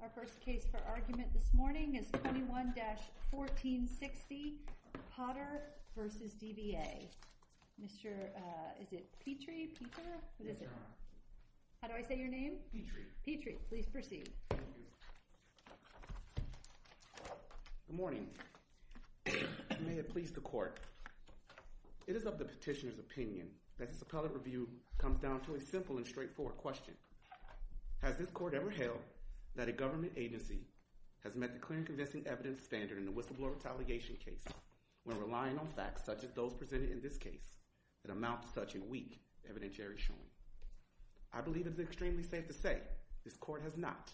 Our first case for argument this morning is 21-1460, Potter v. DVA. Mr. Petrie, Petrie, how do I say your name? Petrie. Please proceed. Good morning. May it please the court. It is of the petitioner's opinion that this appellate review comes down to a simple and straightforward question. Has this court ever held that a government agency has met the clear and convincing evidence standard in the whistleblower retaliation case when relying on facts such as those presented in this case that amount to such a weak evidentiary showing? I believe it's extremely safe to say this court has not.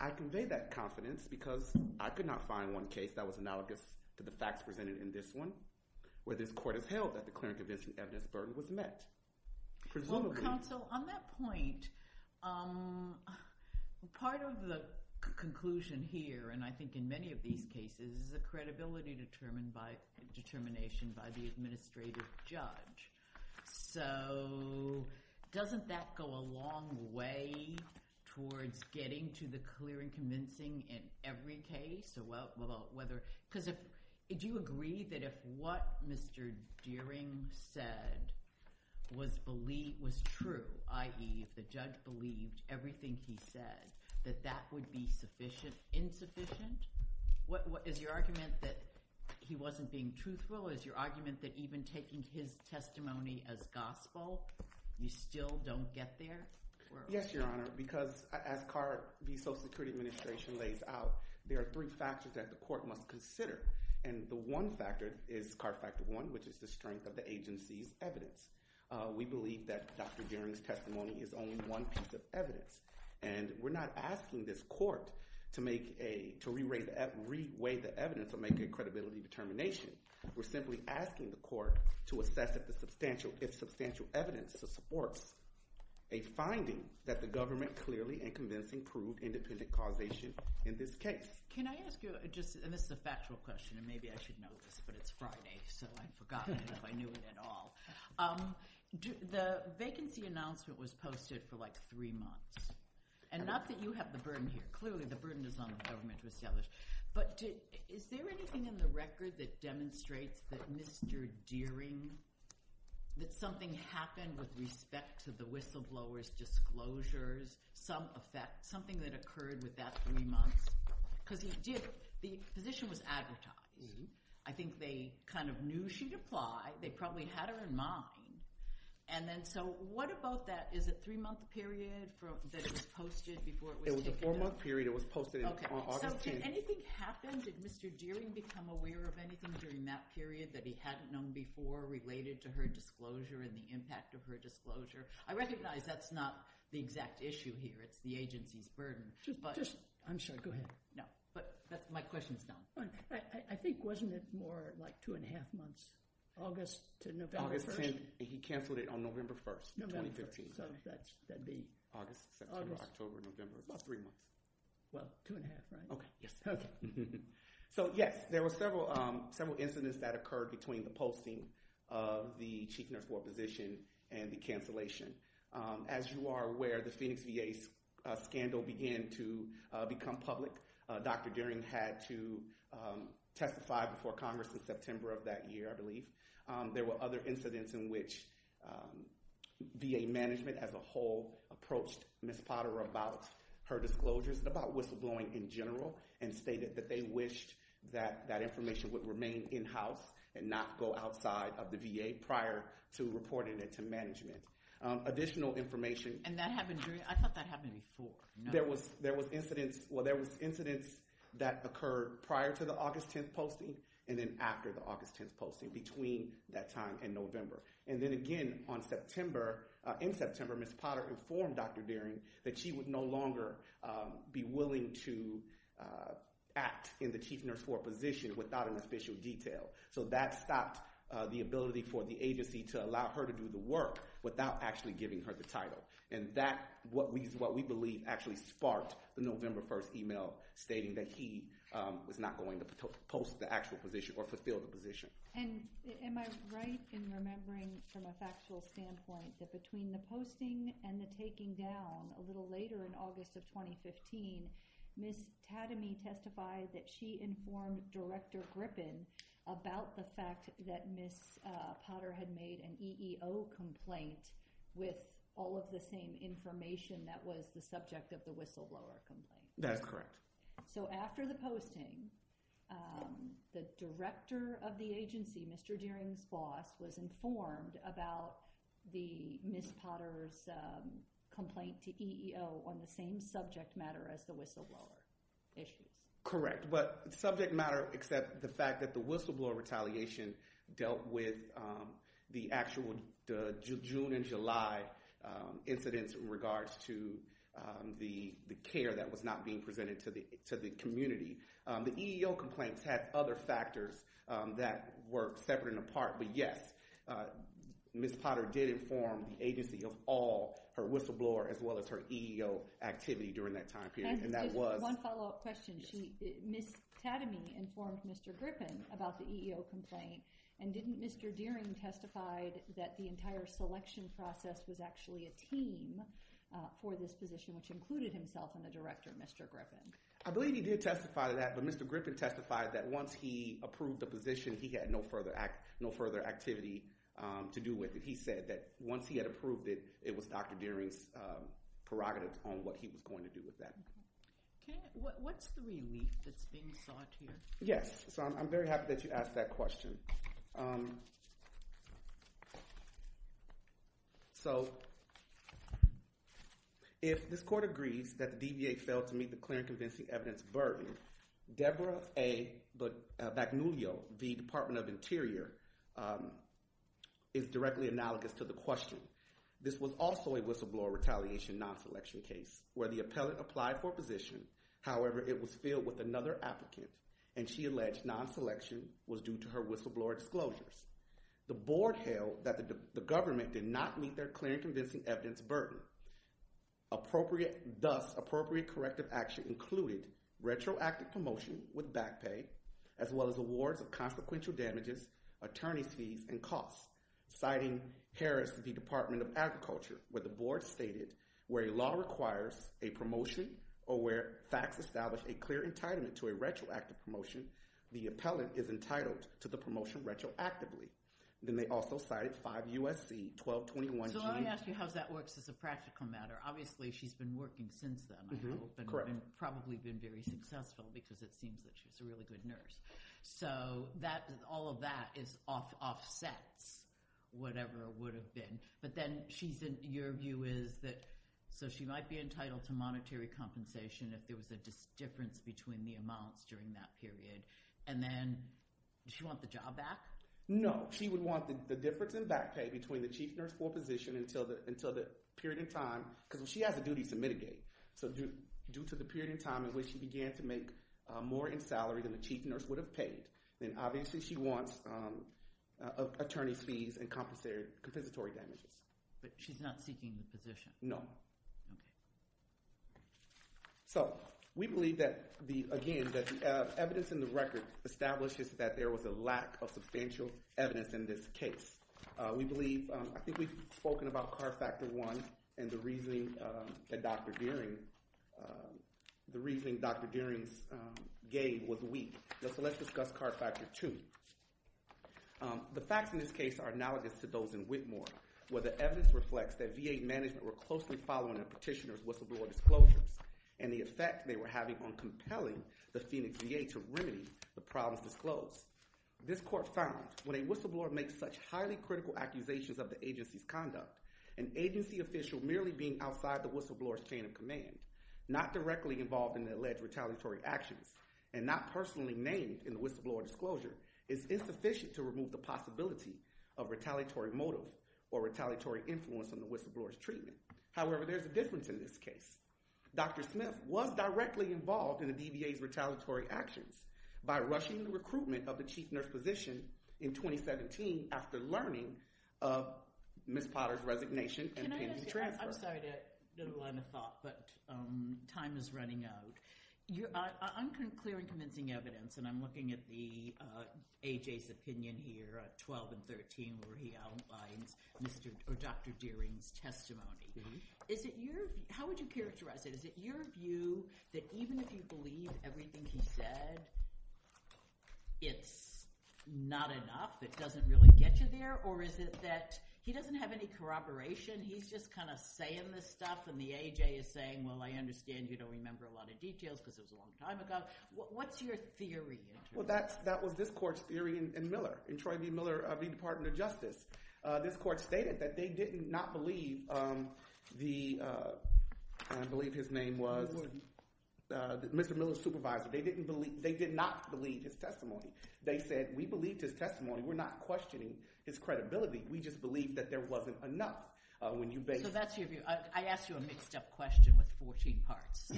I convey that confidence because I could not find one case that was held that the clear and convincing evidence burden was met. Presumably. Counsel, on that point, part of the conclusion here, and I think in many of these cases, is the credibility determined by determination by the administrative judge. So doesn't that go a long way towards getting to the clear and convincing in every case? Because if, do you agree that if what Mr. Deering said was true, i.e., the judge believed everything he said, that that would be insufficient? Is your argument that he wasn't being truthful? Is your argument that even taking his testimony as gospel, you still don't get there? Yes, Your Honor, because as CARB, the Social Security Administration lays out, there are three factors that the agency's evidence. We believe that Dr. Deering's testimony is only one piece of evidence. And we're not asking this court to reweigh the evidence or make a credibility determination. We're simply asking the court to assess if the substantial evidence supports a finding that the government clearly and convincing proved independent causation in this case. Can I ask you, and this is a factual question, and maybe I should know this, but it's Friday, so I've forgotten if I knew it at all. The vacancy announcement was posted for like three months. And not that you have the burden here. Clearly, the burden is on the government with the others. But is there anything in the record that demonstrates that Mr. Deering, that something happened with respect to the whistleblower's disclosures, some effect, something that occurred with that three months? Because he did, the position was advertised. I think they kind of knew she'd apply. They probably had her in mind. And then, so what about that? Is it a three-month period that it was posted before it was taken up? It was a four-month period. It was posted on August 10th. Okay. So did anything happen? Did Mr. Deering become aware of anything during that period that he hadn't known before related to her disclosure and the impact of her disclosure? I recognize that's not the exact issue here. It's the burden. I'm sorry, go ahead. No, but my question is now. I think, wasn't it more like two-and-a-half months, August to November 1st? August 10th, and he canceled it on November 1st, 2015. So that'd be... August, September, October, November, about three months. Well, two-and-a-half, right? Okay, yes. Okay. So yes, there were several incidents that occurred between the posting of the chief nurse ward position and the cancellation. As you are aware, the Phoenix VA scandal began to become public. Dr. Deering had to testify before Congress in September of that year, I believe. There were other incidents in which VA management as a whole approached Ms. Potter about her disclosures, about whistleblowing in general, and stated that they wished that that information would remain in-house and not go outside of the There was incidents that occurred prior to the August 10th posting and then after the August 10th posting, between that time and November. And then again, in September, Ms. Potter informed Dr. Deering that she would no longer be willing to act in the chief nurse ward position without an official detail. So that stopped the ability for the agency to allow her to do the work without actually giving her the title. And that's what we believe actually sparked the November 1st email stating that he was not going to post the actual position or fulfill the position. And am I right in remembering from a factual standpoint that between the posting and the taking down a little later in August of 2015, Ms. Tademy testified that she informed Director Grippen about the fact that Ms. Potter had made an EEO complaint with all of the same information that was the subject of the whistleblower complaint. That's correct. So after the posting, the director of the agency, Mr. Deering's boss, was informed about the Ms. Potter's complaint to EEO on the same subject matter as the whistleblower issue. Correct, but subject matter except the fact that the whistleblower retaliation dealt with the actual June and July incidents in regards to the care that was not being presented to the community. The EEO complaints had other factors that were separate and apart, but yes, Ms. Potter did inform the agency of all her whistleblower as well as her EEO activity during that time period. One follow-up question. Ms. Tademy informed Mr. Grippen about the EEO complaint and didn't Mr. Deering testify that the entire selection process was actually a team for this position, which included himself and the director, Mr. Grippen? I believe he did testify to that, but Mr. Grippen testified that once he approved the position, he had no further activity to do with it. He said that once he had approved it, it was Dr. Deering's prerogatives on what he was going to do with that. What's the relief that's being sought here? Yes, so I'm very happy that you asked that question. So, if this court agrees that the DBA failed to meet the clear and convincing evidence burden, Deborah A. Bagnullio, the Department of Interior, is directly analogous to the question. This was also a whistleblower retaliation non-selection case where the appellant applied for a position. However, it was filled with another applicant and she alleged non-selection was due to her whistleblower disclosures. The board held that the government did not meet their clear and convincing evidence burden. Thus, appropriate corrective action included retroactive promotion with back pay as well as awards of consequential damages, attorney's fees, and costs, citing Harris v. Department of Agriculture, where the board stated where a law requires a promotion or where facts establish a clear entitlement to a retroactive promotion, the appellant is entitled to the promotion retroactively. Then they also cited 5 U.S.C. 1221-G. So, let me ask you how that works as a practical matter. Obviously, she's been working since then, I hope, and probably been very successful because it seems that she's a really good nurse. So, all of that offsets whatever it would have been. But then, your view is that she might be entitled to monetary compensation if there was a difference between the amounts during that period. And then, does she want the job back? No. She would want the difference in back pay between the chief nurse or physician until the period of time, because she has a duty to mitigate. So, due to the period of time in which she began to make more in salary than the chief nurse would have paid, then obviously she wants attorney's fees and compensatory damages. But she's not seeking the position? No. So, we believe that, again, that the evidence in the record establishes that there was a lack of substantial evidence in this case. We believe, I think we've spoken about Card Factor 1 and the reasoning that Dr. Dearing gave was weak. So, let's discuss Card Factor 2. The facts in this case are analogous to those in Whitmore, where the evidence reflects that VA management were closely following a petitioner's whistleblower disclosures and the effect they were having on compelling the Phoenix VA to remedy the problems disclosed. This court found, when a whistleblower makes such highly critical accusations of the agency's conduct, an agency official merely being outside the whistleblower's chain of command, not directly involved in the alleged retaliatory actions, and not personally named in the whistleblower disclosure, is insufficient to remove the possibility of retaliatory motive or retaliatory influence on the whistleblower's treatment. However, there's a difference in this case. Dr. Smith was directly involved in the DVA's retaliatory actions by rushing the recruitment of the chief nurse physician in 2017 after learning of Ms. Potter's resignation and pending transfer. I'm sorry to interrupt, but time is running out. I'm clearing convincing evidence, and I'm looking at AJ's opinion here, 12 and 13, where he outlines Dr. Dearing's testimony. How would you characterize it? Is it your view that even if you believe everything he said, it's not enough? It doesn't really get you there? Or is it that he doesn't have any corroboration? He's just kind of saying this stuff, and the AJ is saying, well, I understand you don't remember a lot of details because it was a long time ago. What's your theory? Well, that was this court's theory in Miller, in Troy V. Miller v. Department of Justice. This court stated that they did not believe the, I believe his name was, Mr. Miller's supervisor. They did not believe his testimony. They said, we believed his testimony. We're not questioning his credibility. We just believe that there wasn't enough. So that's your view. I asked you a mixed up question with 14 parts.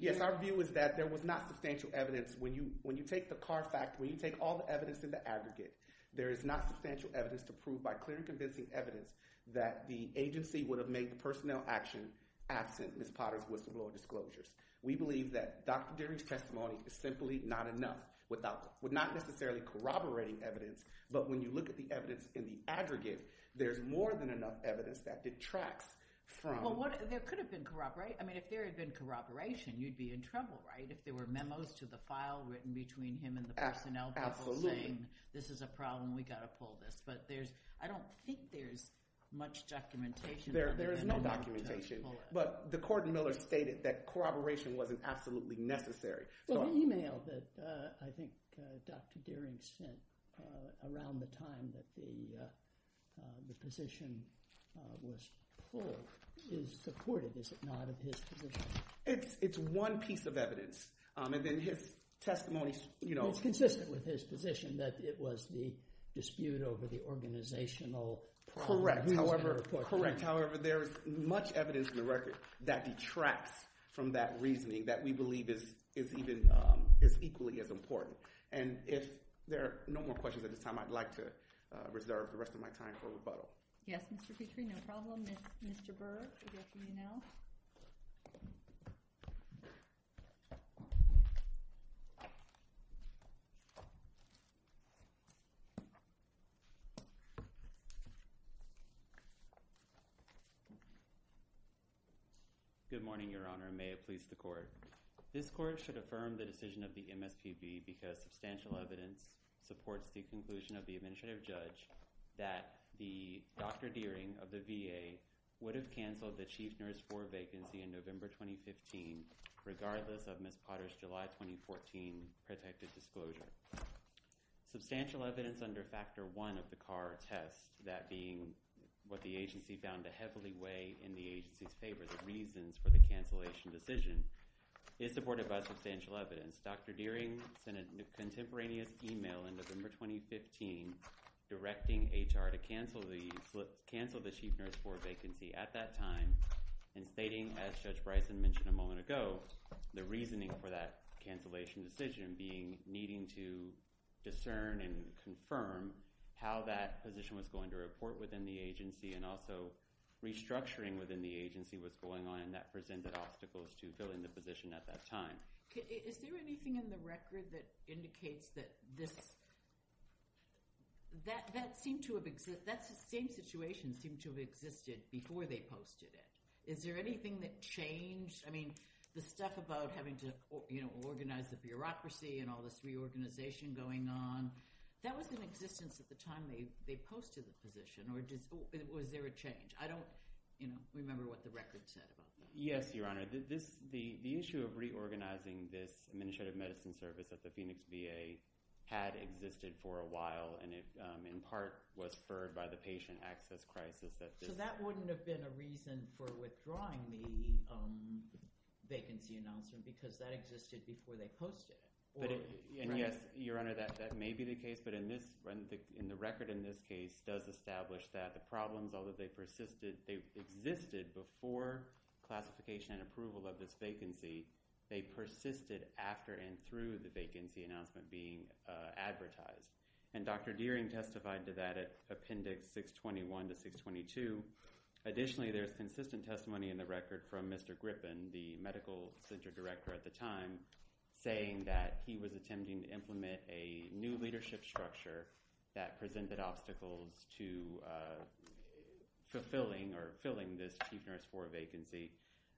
Yes, our view is that there was not substantial evidence. When you take the Carr fact, when you look at the evidence in the aggregate, there's more than enough evidence that detracts from- Well, there could have been corroboration. I mean, if there had been corroboration, you'd be in trouble, right? If there were memos to the file written between him and the personnel people saying, this is a problem, we've got to pull this. But there's no evidence that I don't think there's much documentation. There is no documentation. But the court in Miller stated that corroboration wasn't absolutely necessary. Well, the email that I think Dr. Dearing sent around the time that the position was pulled is supportive, is it not, of his position? It's one piece of evidence. And then his testimony- Well, it's consistent with his position that it was the dispute over the organizational problem. Correct. However, there is much evidence in the record that detracts from that reasoning that we believe is equally as important. And if there are no more questions at this time, I'd like to reserve the rest of my time for rebuttal. Yes, Mr. Petrie, no problem. Mr. Burr, you have the email. Good morning, Your Honor. May it please the court. This court should affirm the decision of the MSPB because substantial evidence supports the conclusion of the administrative judge that the Dr. Dearing of the VA would have canceled the chief nurse floor vacancy in Substantial evidence under Factor I of the Carr test, that being what the agency found to heavily weigh in the agency's favor, the reasons for the cancellation decision, is supported by substantial evidence. Dr. Dearing sent a contemporaneous email in November 2015 directing HR to cancel the chief nurse floor vacancy at that time and stating, as Judge to discern and confirm how that position was going to report within the agency and also restructuring within the agency was going on and that presented obstacles to filling the position at that time. Is there anything in the record that indicates that this, that seemed to have, that same situation seemed to have existed before they posted it? Is there anything that changed? I mean, the stuff about having to organize the bureaucracy and all this reorganization going on, that was in existence at the time they posted the position or was there a change? I don't remember what the record said. Yes, Your Honor. The issue of reorganizing this administrative medicine service at the Phoenix VA had existed for a while and it in part was spurred by the patient access crisis. So that wouldn't have been a reason for withdrawing the vacancy announcement because that existed before they posted it? And yes, Your Honor, that may be the case, but in this, in the record in this case does establish that the problems, although they persisted, they existed before classification and approval of this vacancy, they persisted after and through the vacancy announcement being advertised. And Dr. Dearing testified to that at Appendix 621 to 622. Additionally, there's consistent testimony in the record from Mr. Griffin, the medical center director at the time, saying that he was attempting to implement a new leadership structure that presented obstacles to fulfilling or filling this chief nurse floor vacancy.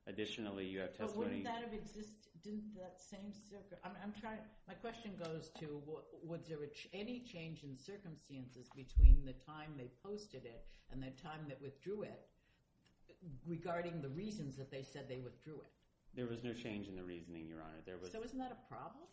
Additionally, you have testimony My question goes to, was there any change in circumstances between the time they posted it and the time that withdrew it regarding the reasons that they said they withdrew it? There was no change in the reasoning, Your Honor. So isn't that a problem?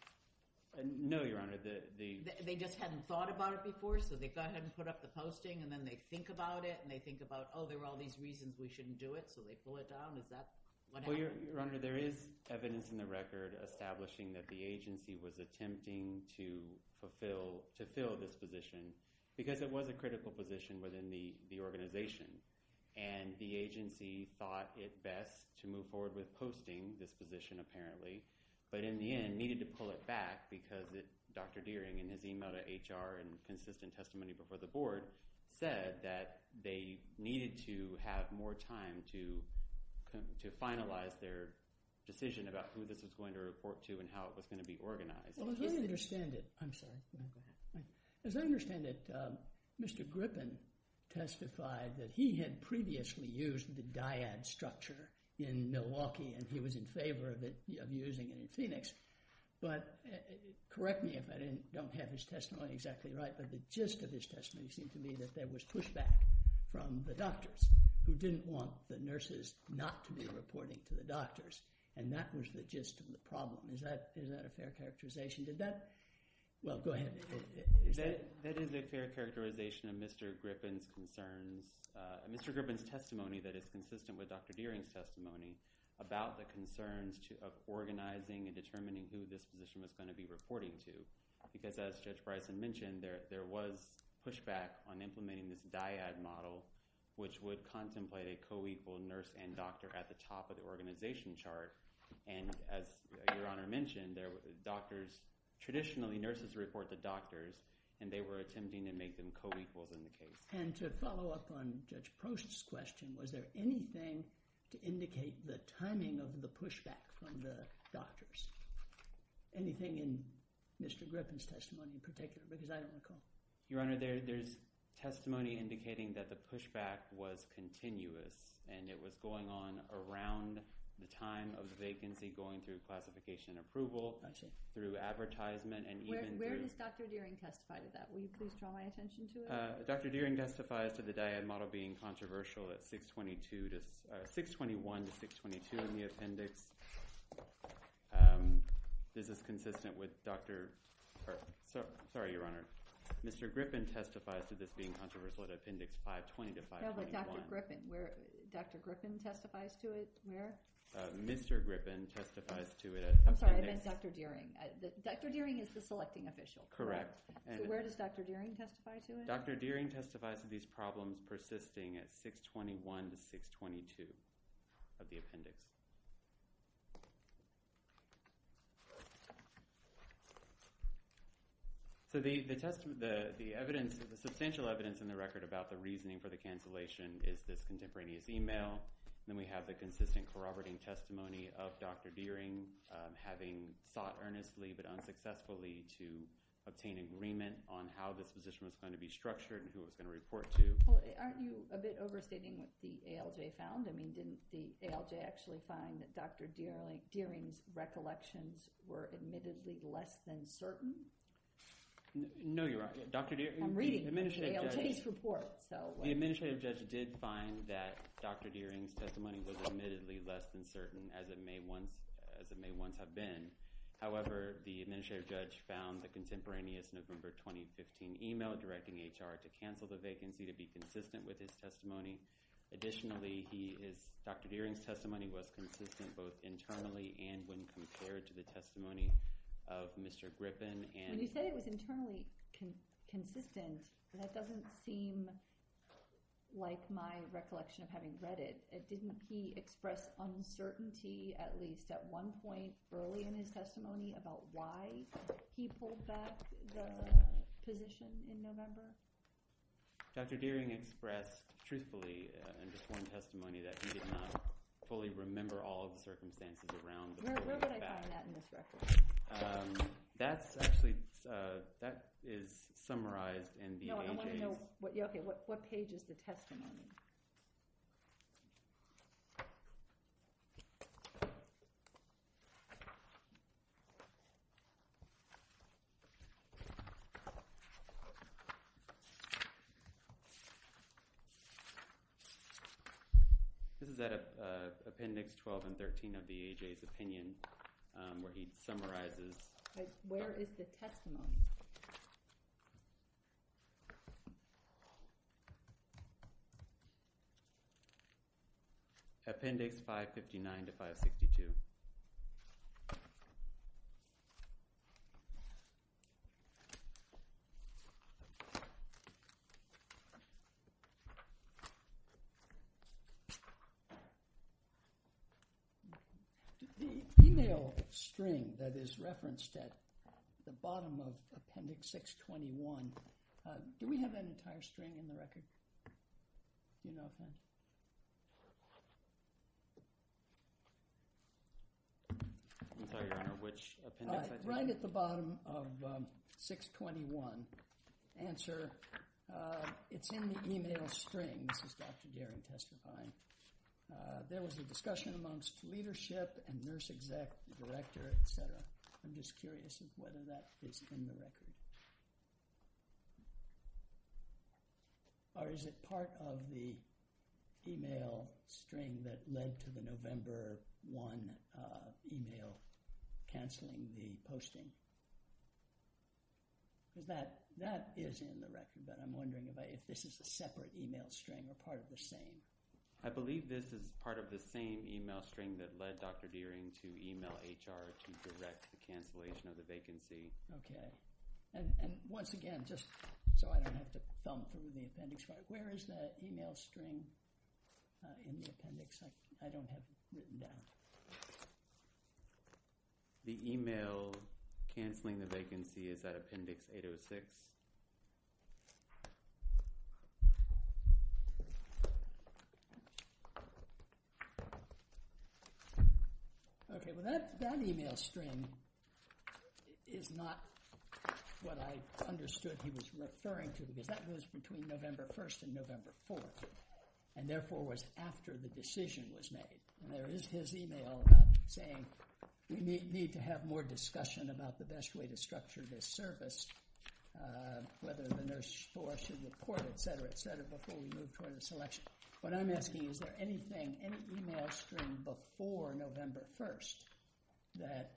No, Your Honor. They just hadn't thought about it before, so they go ahead and put up the posting and then they think about it and they think about, oh, there were all these reasons we shouldn't do it, so they pull it down. Is that what happened? Your Honor, there is evidence in the record establishing that the agency was attempting to fulfill this position because it was a critical position within the organization and the agency thought it best to move forward with posting this position, apparently, but in the end needed to pull it back because Dr. Dearing, in his email to HR and consistent about who this was going to report to and how it was going to be organized. As I understand it, Mr. Griffin testified that he had previously used the dyad structure in Milwaukee and he was in favor of using it in Phoenix, but correct me if I don't have his testimony exactly right, but the gist of his testimony seemed to me that there was And that was the gist of the problem. Is that a fair characterization? Well, go ahead. That is a fair characterization of Mr. Griffin's concerns. Mr. Griffin's testimony that is consistent with Dr. Dearing's testimony about the concerns of organizing and determining who this position was going to be reporting to because, as Judge Bryson mentioned, there was pushback on implementing this dyad model, which would contemplate a coequal nurse and nurse organization chart, and as Your Honor mentioned, there were doctors, traditionally nurses report to doctors, and they were attempting to make them coequals in the case. And to follow up on Judge Post's question, was there anything to indicate the timing of the pushback from the doctors? Anything in Mr. Griffin's testimony in particular? Because I don't recall. Your Honor, there's testimony indicating that the pushback was continuous and it was going on around the time of the vacancy, going through classification and approval, through advertisement, and even through Where does Dr. Dearing testify to that? Will you please draw my attention to it? Dr. Dearing testifies to the dyad model being controversial at 621 to 622 in the appendix. Is this consistent with Dr. – sorry, Your Honor. Mr. Griffin testifies to this being controversial at appendix 520 to 521. Dr. Griffin testifies to it where? Mr. Griffin testifies to it at – I'm sorry, I meant Dr. Dearing. Dr. Dearing is the selecting official. Correct. So where does Dr. Dearing testify to it? Dr. Dearing testifies to these problems persisting at 621 to 622 of the appendix. So the evidence, the substantial evidence in the record about the reasoning for the cancellation is this contemporaneous email. Then we have the consistent corroborating testimony of Dr. Dearing having sought earnestly but unsuccessfully to obtain agreement on how this position was going to be structured and who it was going to report to. Aren't you a bit overstating what the ALJ found? I mean, didn't the ALJ actually find that Dr. Dearing's recollections were admittedly less than certain? No, Your Honor. I'm reading the ALJ's report. The administrative judge did find that Dr. Dearing's testimony was admittedly less than certain as it may once have been. However, the administrative judge found the contemporaneous November 2015 email directing HR to cancel the vacancy to be consistent with his testimony. Additionally, Dr. Dearing's testimony was consistent both internally and when compared to the testimony of Mr. Griffin. When you say it was internally consistent, that doesn't seem like my recollection of having read it. Didn't he express uncertainty at least at one point early in his testimony about why he pulled back the position in November? Dr. Dearing expressed truthfully in just one testimony that he did not fully remember all of the circumstances around that. Where did I find that in this record? That's actually, that is summarized in the ALJ's… No, I want to know, okay, what page is the testimony? This is at Appendix 12 and 13 of the ALJ's opinion where he summarizes. Where is the testimony? Appendix 559 to 562. The email string that is referenced at the bottom of Appendix 621, do we have that entire string in the record? Email thing. I'm sorry, Your Honor, which appendix? Right at the bottom of 621. Answer, it's in the email string. This is Dr. Dearing testifying. There was a discussion amongst leadership and nurse exec, director, etc. I'm just curious as to whether that is in the record. Or is it part of the email string that led to the November 1 email canceling the posting? That is in the record, but I'm wondering if this is a separate email string or part of the same. I believe this is part of the same email string that led Dr. Dearing to email HR to direct the cancellation of the vacancy. Once again, just so I don't have to thump through the appendix, where is that email string in the appendix? I don't have it written down. The email canceling the vacancy is at Appendix 806. Okay, well that email string is not what I understood he was referring to, because that was between November 1 and November 4, and therefore was after the decision was made. There is his email saying, we need to have more discussion about the best way to structure this service, whether the nurse board should report, etc., etc., before we move toward a selection. What I'm asking, is there anything, any email string before November 1 that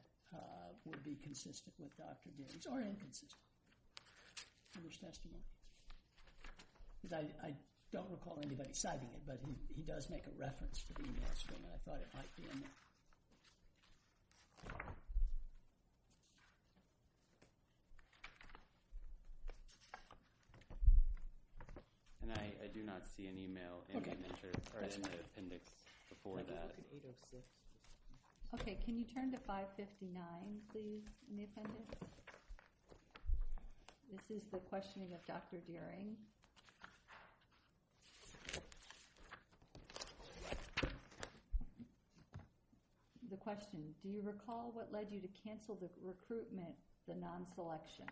would be consistent with Dr. Dearing's, or inconsistent with Dr. Dearing's, finished testimony? Because I don't recall anybody citing it, but he does make a reference to the email string, and I thought it might be in there. And I do not see an email in the appendix before that. Okay, can you turn to 559, please, in the appendix? This is the questioning of Dr. Dearing. The question, do you recall what led you to cancel the recruitment, the non-selection?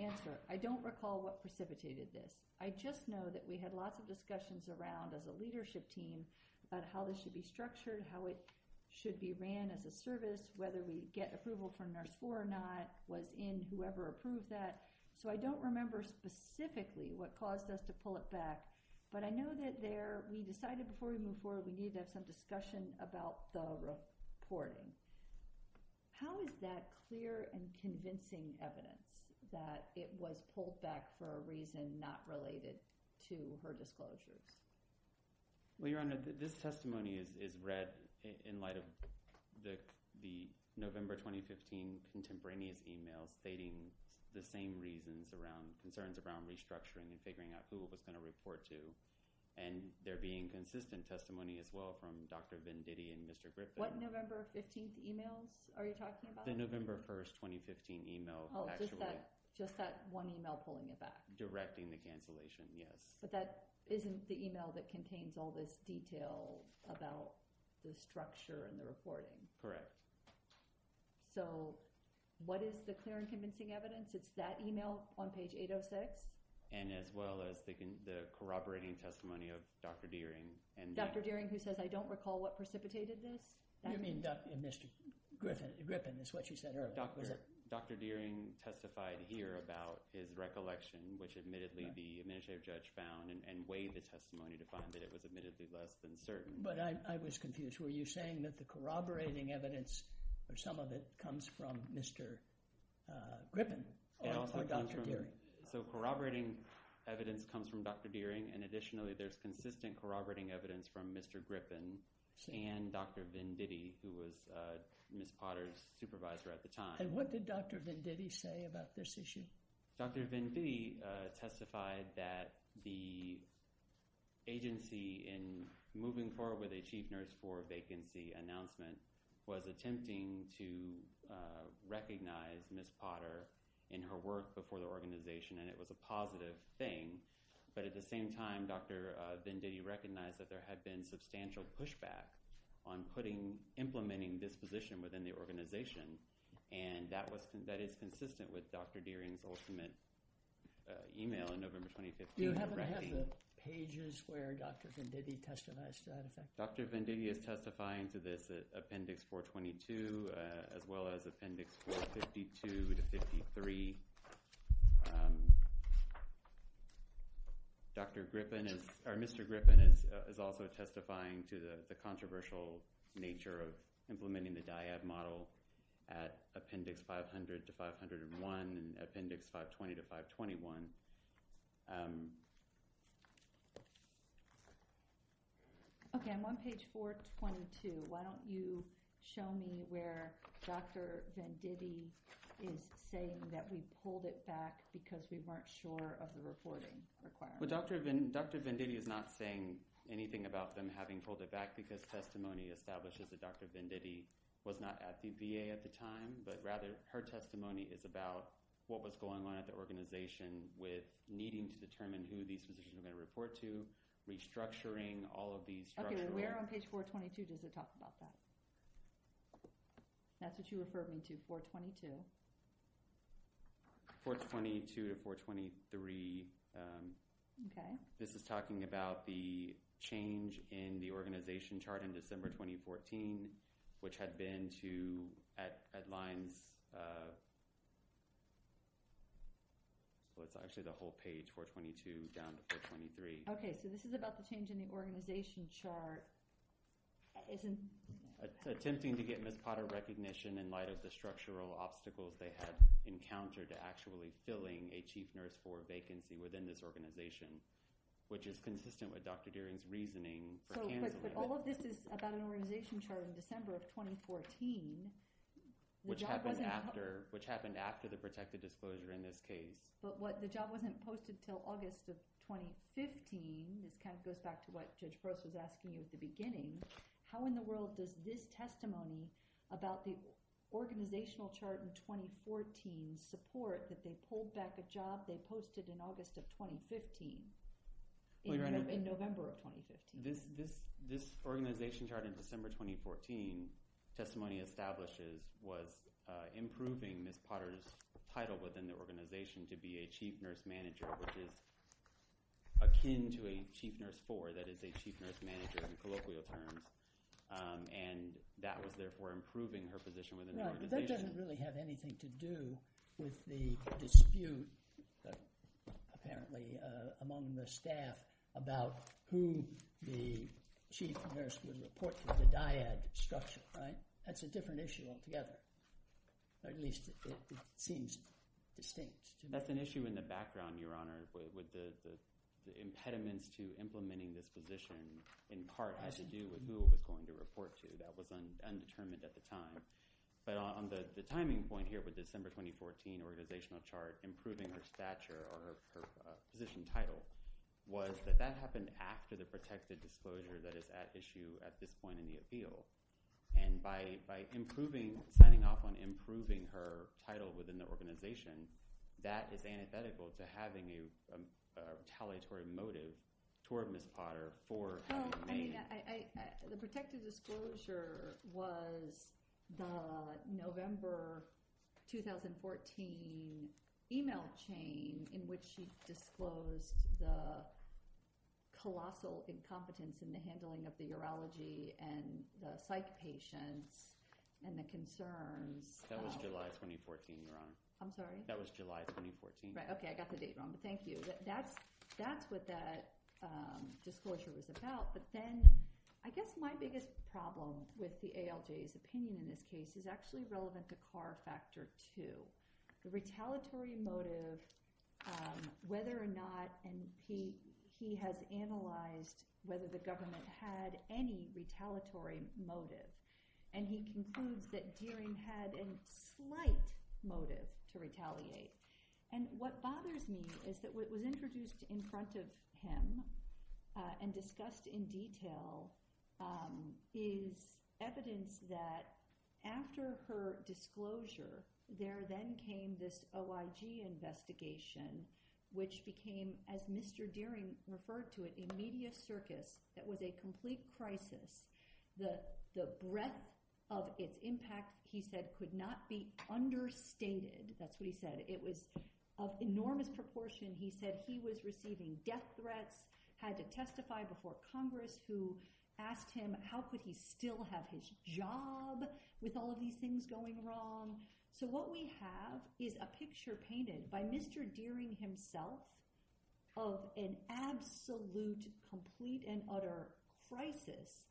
Answer, I don't recall what precipitated this. I just know that we had lots of discussions around, as a leadership team, about how this should be structured, how it should be ran as a service, whether we get approval from But I know that there, we decided before we move forward, we need to have some discussion about the reporting. How is that clear and convincing evidence that it was pulled back for a reason not related to her disclosures? Well, Your Honor, this testimony is read in light of the November 2015 contemporaneous emails stating the same reasons around, concerns around restructuring and figuring out who it was going to report to, and there being consistent testimony as well from Dr. Venditti and Mr. Griffin. What November 15th emails are you talking about? The November 1st, 2015 email, actually. Oh, just that one email pulling it back? Directing the cancellation, yes. But that isn't the email that contains all this detail about the structure and the reporting? Correct. So, what is the clear and convincing evidence? It's that email on page 806? And as well as the corroborating testimony of Dr. Deering. Dr. Deering, who says, I don't recall what precipitated this? You mean Mr. Griffin? Griffin is what you said earlier. Dr. Deering testified here about his recollection, which admittedly the administrative judge found and weighed the testimony to find that it was admittedly less than certain. But I was confused. Were you saying that the corroborating evidence, or some of it, comes from Mr. Griffin or Dr. Deering? So, corroborating evidence comes from Dr. Deering, and additionally there's consistent corroborating evidence from Mr. Griffin and Dr. Venditti, who was Ms. Potter's supervisor at the time. And what did Dr. Venditti say about this issue? Dr. Venditti testified that the agency in moving forward with a chief nurse for vacancy announcement was attempting to recognize Ms. Potter in her work before the organization and it was a positive thing. But at the same time, Dr. Venditti recognized that there had been substantial pushback on putting, implementing this position within the organization. And that is consistent with Dr. Deering's ultimate email in November 2015. Do you happen to have the pages where Dr. Venditti testified to that effect? Dr. Venditti is testifying to this at Appendix 422, as well as Appendix 452 to 53. Mr. Griffin is also testifying to the controversial nature of implementing the DIAB model. At Appendix 500 to 501 and Appendix 520 to 521. Okay, I'm on page 422. Why don't you show me where Dr. Venditti is saying that we pulled it back because we weren't sure of the reporting requirements. Dr. Venditti is not saying anything about them having pulled it back because testimony establishes that Dr. Venditti was not at the VA at the time, but rather her testimony is about what was going on at the organization with needing to determine who these positions were going to report to, restructuring all of these structures. Okay, we're on page 422. Does it talk about that? That's what you referred me to, 422. 422 to 423. Okay. This is talking about the change in the organization chart in December 2014, which had been to at Lyons, well it's actually the whole page, 422 down to 423. Okay, so this is about the change in the organization chart. Attempting to get Ms. Potter recognition in light of the structural obstacles they had encountered to actually filling a Chief Nurse 4 vacancy within this organization, which is consistent with Dr. Deering's reasoning for canceling it. But all of this is about an organization chart in December of 2014, which happened after the protected disclosure in this case. But the job wasn't posted until August of 2015, which kind of goes back to what Judge Gross was asking you at the beginning. How in the world does this testimony about the organizational chart in 2014 support that they pulled back a job they posted in August of 2015, in November of 2015? This organization chart in December 2014 testimony establishes was improving Ms. Potter's title within the organization to be a Chief Nurse Manager, which is akin to a Chief Nurse 4, that is a Chief Nurse Manager in colloquial terms, and that was therefore improving her position within the organization. Right, but that doesn't really have anything to do with the dispute, apparently, among the staff about who the Chief Nurse would report to, the dyad structure, right? That's a different issue altogether, or at least it seems distinct. That's an issue in the background, Your Honor, with the impediments to implementing this position in part had to do with who it was going to report to. That was undetermined at the time. But on the timing point here with December 2014 organizational chart, improving her stature or her position title was that that happened after the protected disclosure that is at issue at this point in the appeal. And by improving, signing off on improving her title within the organization, that is antithetical to having a retaliatory motive toward Ms. Potter for having made— Well, I mean, the protected disclosure was the November 2014 email chain in which she and the concerns— That was July 2014, Your Honor. I'm sorry? That was July 2014. Right, okay, I got the date wrong, but thank you. That's what that disclosure was about. But then I guess my biggest problem with the ALJ's opinion in this case is actually relevant to CAR Factor 2. The retaliatory motive, whether or not—and he has analyzed whether the government had any retaliatory motive, and he concludes that Deering had a slight motive to retaliate. And what bothers me is that what was introduced in front of him and discussed in detail is evidence that after her disclosure, there then came this OIG investigation, which became, as Mr. Deering referred to it, a media circus that was a complete crisis. The breadth of its impact, he said, could not be understated. That's what he said. It was of enormous proportion. He said he was receiving death threats, had to testify before Congress, who asked him how could he still have his job with all of these things going wrong. So what we have is a picture painted by Mr. Deering himself of an absolute, complete, and utter crisis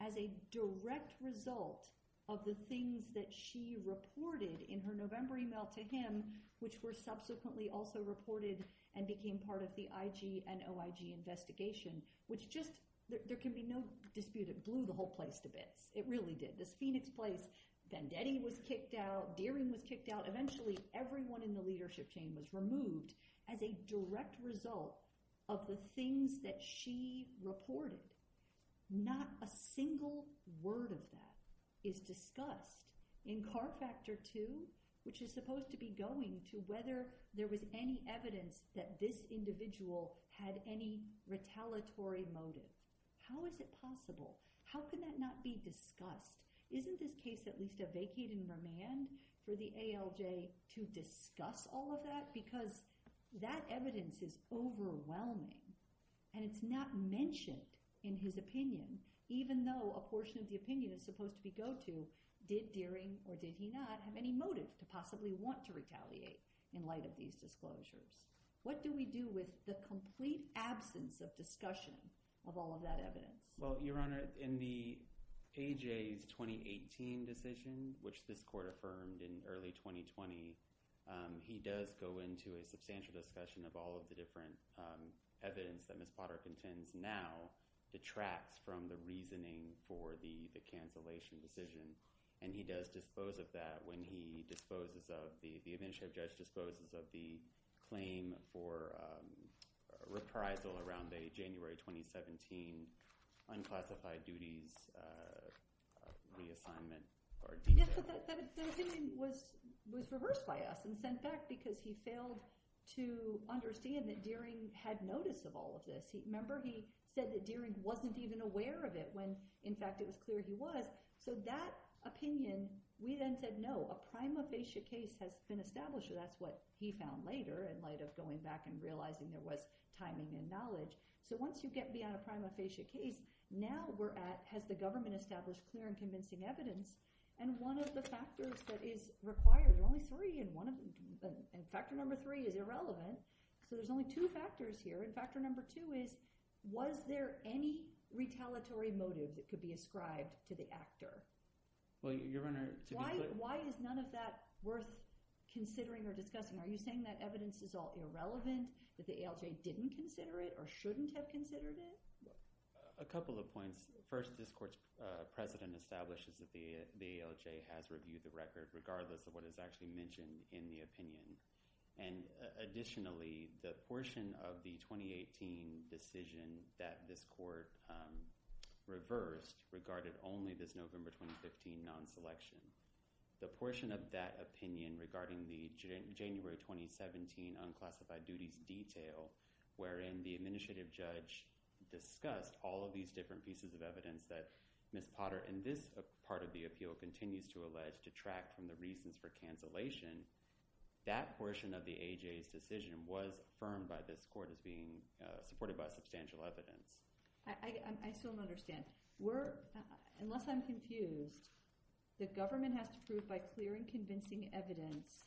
as a direct result of the things that she reported in her November email to him, which were subsequently also reported and became part of the IG and OIG investigation, which just—there can be no dispute, it blew the whole place to bits. It really did. It blew this Phoenix place. Vendetti was kicked out. Deering was kicked out. Eventually, everyone in the leadership chain was removed as a direct result of the things that she reported. Not a single word of that is discussed in CAR Factor 2, which is supposed to be going to whether there was any evidence that this individual had any retaliatory motive. How is it possible? How could that not be discussed? Isn't this case at least a vacating remand for the ALJ to discuss all of that? Because that evidence is overwhelming, and it's not mentioned in his opinion, even though a portion of the opinion is supposed to be go to, did Deering or did he not have any motive to possibly want to retaliate in light of these disclosures? What do we do with the complete absence of discussion of all of that evidence? Well, Your Honor, in the AJ's 2018 decision, which this court affirmed in early 2020, he does go into a substantial discussion of all of the different evidence that Ms. Potter contends now detracts from the reasoning for the cancellation decision. He does dispose of that when he disposes of, the administrative judge disposes of the claim for reprisal around the January 2017 unclassified duties reassignment. Yes, but that opinion was reversed by us and sent back because he failed to understand that Deering had notice of all of this. Remember, he said that Deering wasn't even aware of it when, in fact, it was clear he was. So that opinion, we then said, no, a prima facie case has been established. So that's what he found later in light of going back and realizing there was timing and knowledge. So once you get beyond a prima facie case, now we're at, has the government established clear and convincing evidence? And one of the factors that is required, only three, and factor number three is irrelevant. So there's only two factors here. And factor number two is, was there any retaliatory motive that could be ascribed to the actor? Why is none of that worth considering or discussing? Are you saying that evidence is all irrelevant, that the ALJ didn't consider it or shouldn't have considered it? A couple of points. First, this court's president establishes that the ALJ has reviewed the record regardless of what is actually mentioned in the opinion. And additionally, the portion of the 2018 decision that this court reversed regarded only this November 2015 non-selection. The portion of that opinion regarding the January 2017 unclassified duties detail, wherein the administrative judge discussed all of these different pieces of evidence that Ms. Potter, in this part of the appeal, continues to allege detract from the reasons for cancellation, that portion of the ALJ's decision was affirmed by this court as being supported by substantial evidence. I still don't understand. Unless I'm confused, the government has to prove by clear and convincing evidence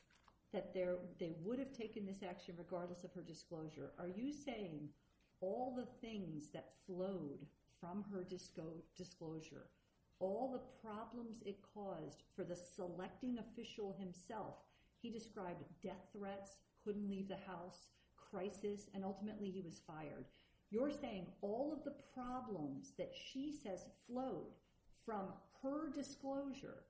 that they would have taken this action regardless of her disclosure. Are you saying all the things that flowed from her disclosure, all the problems it caused for the selecting official himself, he described death threats, couldn't leave the house, crisis, and ultimately he was fired. You're saying all of the problems that she says flowed from her disclosure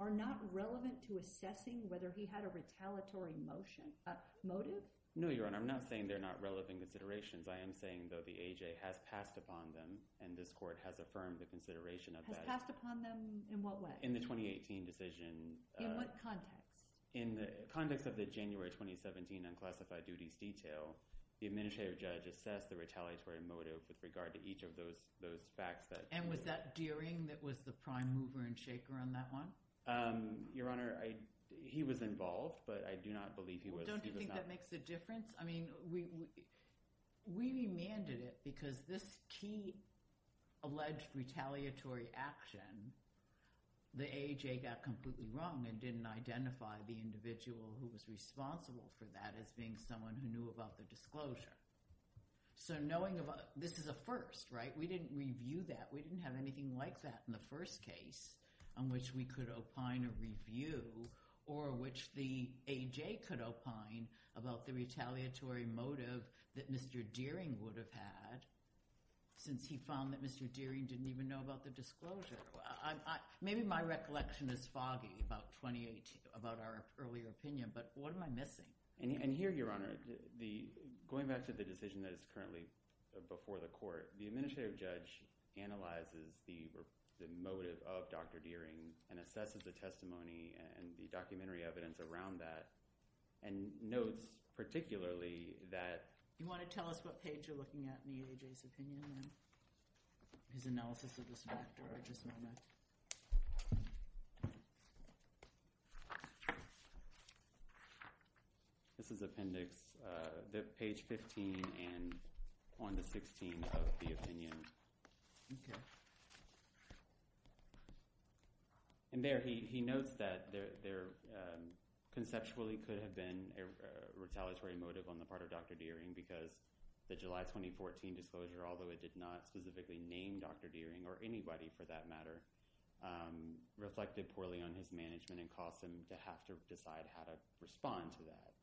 are not relevant to assessing whether he had a retaliatory motive? No, Your Honor. I'm not saying they're not relevant considerations. I am saying, though, the ALJ has passed upon them and this court has affirmed the consideration of that. Has passed upon them in what way? In the 2018 decision. In what context? In the context of the January 2017 unclassified duties detail, the administrative judge assessed the retaliatory motive with regard to each of those facts. And was that Deering that was the prime mover and shaker on that one? Your Honor, he was involved, but I do not believe he was. Don't you think that makes a difference? I mean, we demanded it because this key alleged retaliatory action, the ALJ got completely wrong and didn't identify the individual who was responsible for that as being someone who knew about the disclosure. So knowing about, this is a first, right? We didn't review that. We didn't have anything like that in the first case on which we could opine a review or which the AJ could opine about the retaliatory motive that Mr. Deering would have had since he found that Mr. Deering didn't even know about the disclosure. Maybe my recollection is foggy about 2018, about our earlier opinion, but what am I missing? And here, Your Honor, going back to the decision that is currently before the court, the administrative judge analyzes the motive of Dr. Deering and assesses the testimony and the documentary evidence around that and notes particularly that... Do you want to tell us what page you're looking at in the AJ's opinion? His analysis of this doctor. Just a moment. This is appendix, page 15 and on the 16th of the opinion. Okay. And there, he notes that there conceptually could have been a retaliatory motive on the behalf of Dr. Deering because the July 2014 disclosure, although it did not specifically name Dr. Deering or anybody for that matter, reflected poorly on his management and cost him to have to decide how to respond to that.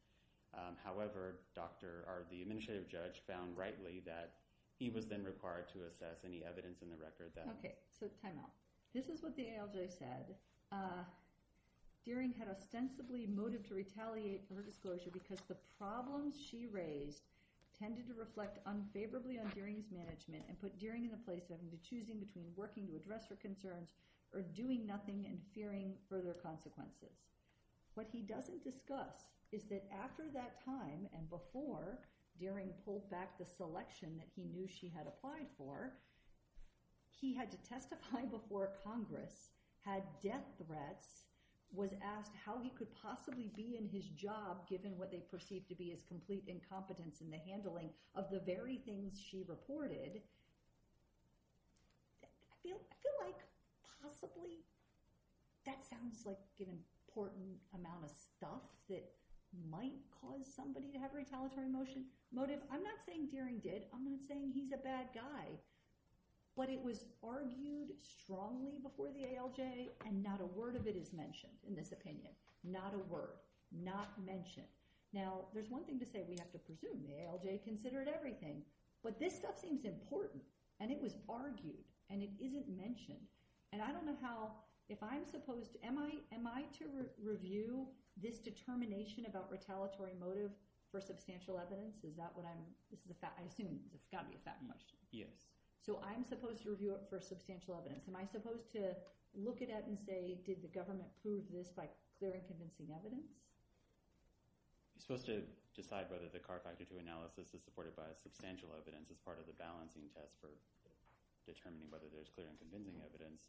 However, the administrative judge found rightly that he was then required to assess any evidence in the record that... Okay. So time out. This is what the ALJ said. Deering had ostensibly motive to retaliate for her disclosure because the problems she raised tended to reflect unfavorably on Deering's management and put Deering in a place of either choosing between working to address her concerns or doing nothing and fearing further consequences. What he doesn't discuss is that after that time and before Deering pulled back the selection that he knew she had applied for, he had to testify before Congress, had death threats, was asked how he could possibly be in his job given what they perceived to be his complete incompetence in the handling of the very things she reported. I feel like possibly that sounds like an important amount of stuff that might cause somebody to have retaliatory motive. I'm not saying Deering did. I'm not saying he's a bad guy. But it was argued strongly before the ALJ and not a word of it is mentioned in this opinion. Not a word. Not mentioned. Now, there's one thing to say. We have to presume the ALJ considered everything. But this stuff seems important and it was argued and it isn't mentioned. And I don't know how, if I'm supposed... Am I to review this determination about retaliatory motive for substantial evidence? Is that what I'm... I assume it's got to be a fattened question. Yes. So I'm supposed to review it for substantial evidence. Am I supposed to look at it and say, did the government prove this by clear and convincing evidence? You're supposed to decide whether the CAR Factor II analysis is supported by substantial evidence as part of the balancing test for determining whether there's clear and convincing evidence.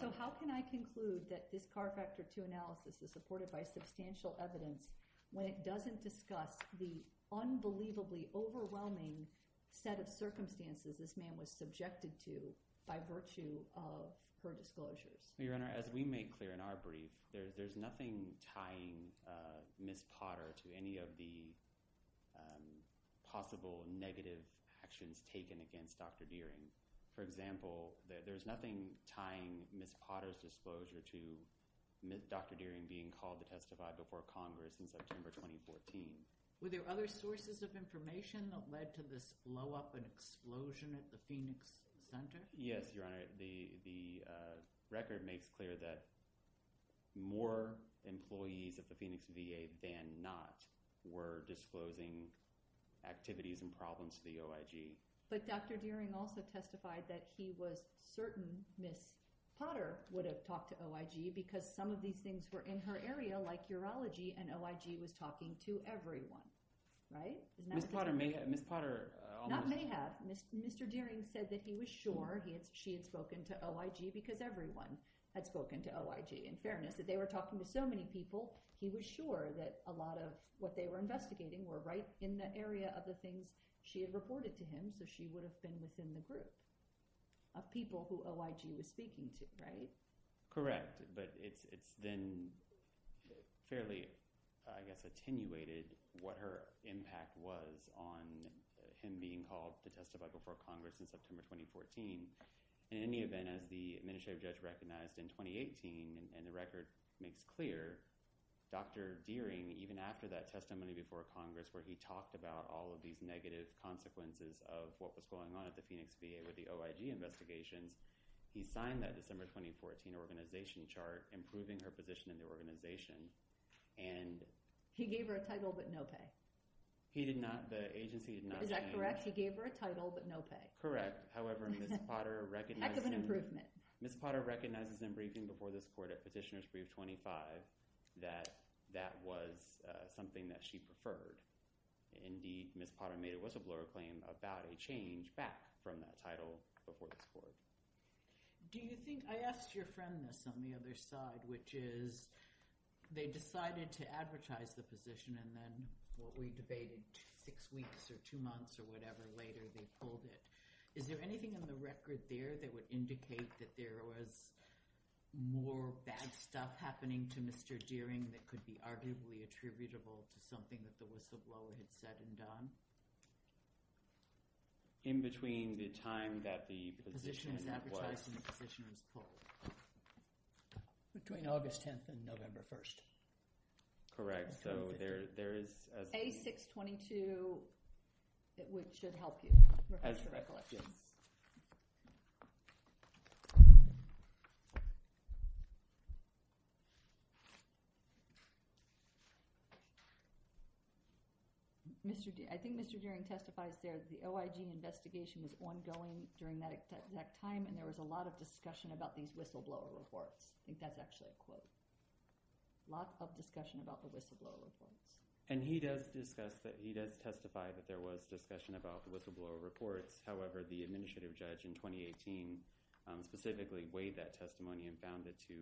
So how can I conclude that this CAR Factor II analysis is supported by substantial evidence when it doesn't discuss the unbelievably overwhelming set of circumstances this man was subjected to by virtue of her disclosures? Your Honor, as we make clear in our brief, there's nothing tying Ms. Potter to any of the possible negative actions taken against Dr. Deering. For example, there's nothing tying Ms. Potter's disclosure to Dr. Deering being called to testify before Congress in September 2014. Were there other sources of information that led to this blowup and explosion at the Phoenix Center? Yes, Your Honor. The record makes clear that more employees at the Phoenix VA than not were disclosing activities and problems to the OIG. But Dr. Deering also testified that he was certain Ms. Potter would have talked to OIG because some of these things were in her area, like urology, and OIG was talking to everyone. Ms. Potter may have – Not may have. Mr. Deering said that he was sure she had spoken to OIG because everyone had spoken to OIG. In fairness, that they were talking to so many people, he was sure that a lot of what they were investigating were right in the area of the things she had reported to him, so she would have been within the group of people who OIG was speaking to, right? Correct, but it's then fairly, I guess, attenuated what her impact was on him being called to testify before Congress in September 2014. In any event, as the administrative judge recognized in 2018, and the record makes clear, Dr. Deering, even after that testimony before Congress where he talked about all of these negative consequences of what was going on at the Phoenix VA with the OIG investigations, he signed that December 2014 organization chart, improving her position in the organization. He gave her a title but no pay. He did not. The agency did not. Is that correct? He gave her a title but no pay. Correct. However, Ms. Potter recognizes in briefing before this court at Petitioner's Brief 25 that that was something that she preferred. Indeed, Ms. Potter made a whistleblower claim about a change back from that title before this court. I asked your friend this on the other side, which is they decided to advertise the position and then what we debated six weeks or two months or whatever later, they pulled it. Is there anything in the record there that would indicate that there was more bad stuff happening to Mr. Deering that could be arguably attributable to something that the whistleblower had said and done? In between the time that the position was advertised and the position was pulled. Between August 10th and November 1st. Correct. So there is a… A622 should help you. As a recollection. I think Mr. Deering testifies there that the OIG investigation was ongoing during that time and there was a lot of discussion about these whistleblower reports. I think that's actually a quote. Lots of discussion about the whistleblower reports. And he does discuss, he does testify that there was discussion about the whistleblower reports. However, the administrative judge in 2018 specifically weighed that testimony and found it to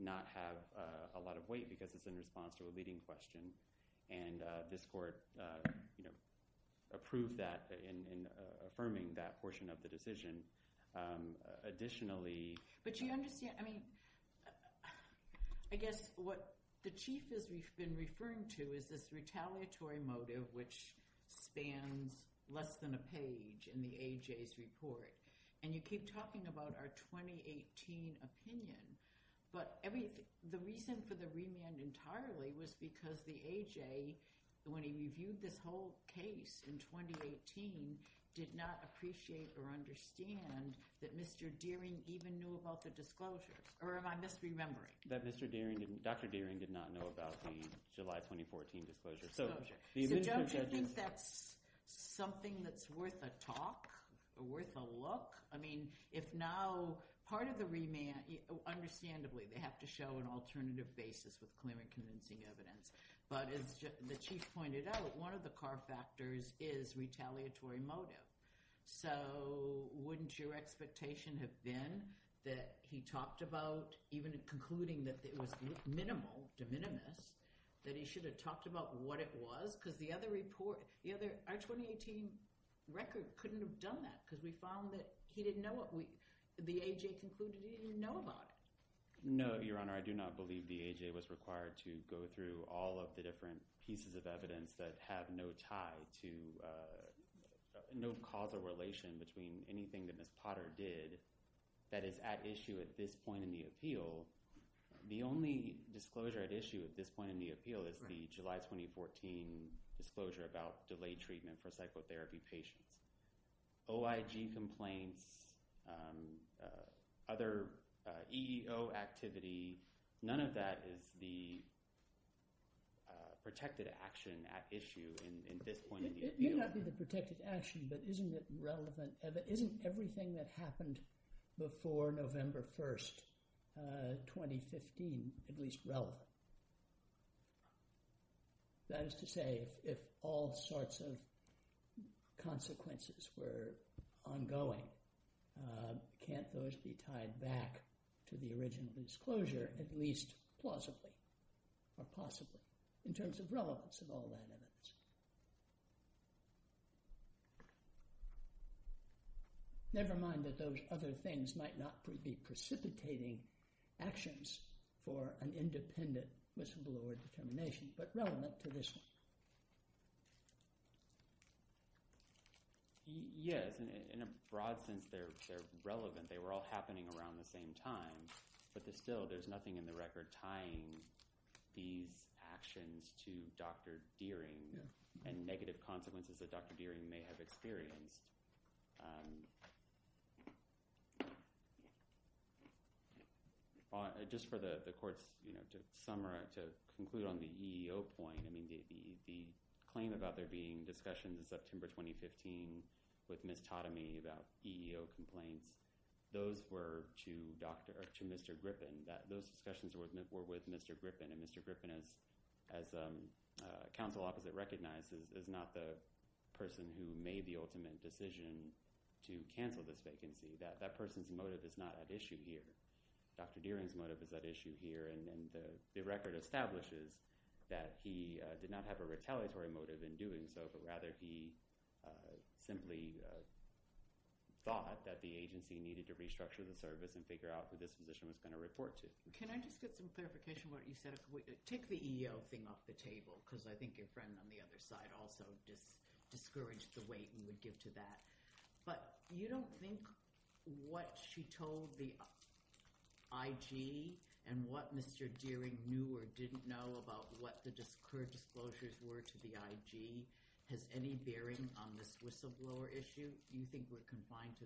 not have a lot of weight because it's in response to a leading question. And this court approved that in affirming that portion of the decision. Additionally… But you understand, I mean, I guess what the Chief has been referring to is this retaliatory motive which spans less than a page in the AJ's report. And you keep talking about our 2018 opinion. But the reason for the remand entirely was because the AJ, when he reviewed this whole case in 2018, did not appreciate or understand that Mr. Deering even knew about the disclosure. Or am I misremembering? That Mr. Deering, Dr. Deering did not know about the July 2014 disclosure. So Judge, do you think that's something that's worth a talk or worth a look? I mean, if now part of the remand, understandably they have to show an alternative basis with clear and convincing evidence. But as the Chief pointed out, one of the core factors is retaliatory motive. So wouldn't your expectation have been that he talked about, even concluding that it was minimal, de minimis, that he should have talked about what it was? Because the other report, our 2018 record couldn't have done that because we found that he didn't know what we, the AJ concluded he didn't know about it. No, Your Honor, I do not believe the AJ was required to go through all of the different pieces of evidence that have no tie to, no causal relation between anything that Ms. Potter did that is at issue at this point in the appeal. The only disclosure at issue at this point in the appeal is the July 2014 disclosure about delayed treatment for psychotherapy patients. OIG complaints, other EEO activity. None of that is the protected action at issue in this point in the appeal. It may not be the protected action, but isn't it relevant? Isn't everything that happened before November 1st, 2015 at least relevant? That is to say, if all sorts of consequences were ongoing, can't those be tied back to the original disclosure at least plausibly, or possibly, in terms of relevance of all that evidence? Never mind that those other things might not be precipitating actions for an independent miscellaneous determination, but relevant to this one. Yes, in a broad sense, they're relevant. They were all happening around the same time, but still, there's nothing in the record tying these actions to Dr. Deering and negative consequences that Dr. Deering may have experienced. Just for the court's summary, to conclude on the EEO point, the claim about there being discussions in September 2015 with Ms. Tadamy about EEO complaints, those were to Mr. Griffin. Those discussions were with Mr. Griffin, and Mr. Griffin, as counsel opposite recognizes, is not the person who made the ultimate decision to cancel this vacancy. That person's motive is not at issue here. Dr. Deering's motive is at issue here, and the record establishes that he did not have a retaliatory motive in doing so, but rather he simply thought that the agency needed to restructure the service and figure out who this position was going to report to. Can I just get some clarification on what you said? Take the EEO thing off the table, because I think your friend on the other side also discouraged the weight you would give to that. But you don't think what she told the IG and what Mr. Deering knew or didn't know about what the current disclosures were to the IG has any bearing on this whistleblower issue? Do you think we're confined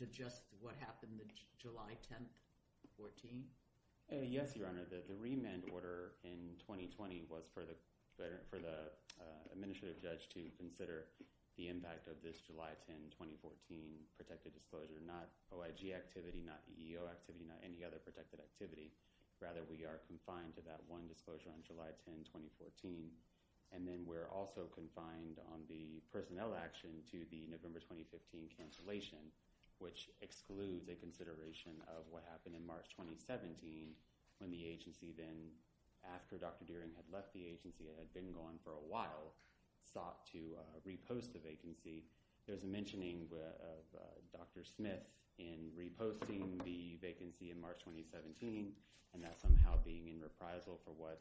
to just what happened July 10th, 2014? Yes, Your Honor. The remand order in 2020 was for the administrative judge to consider the impact of this July 10th, 2014 protected disclosure. Not OIG activity, not EEO activity, not any other protected activity. Rather, we are confined to that one disclosure on July 10th, 2014. And then we're also confined on the personnel action to the November 2015 cancellation, which excludes a consideration of what happened in March 2017, when the agency then, after Dr. Deering had left the agency and had been gone for a while, sought to repost the vacancy. There's a mentioning of Dr. Smith in reposting the vacancy in March 2017, and that somehow being in reprisal for what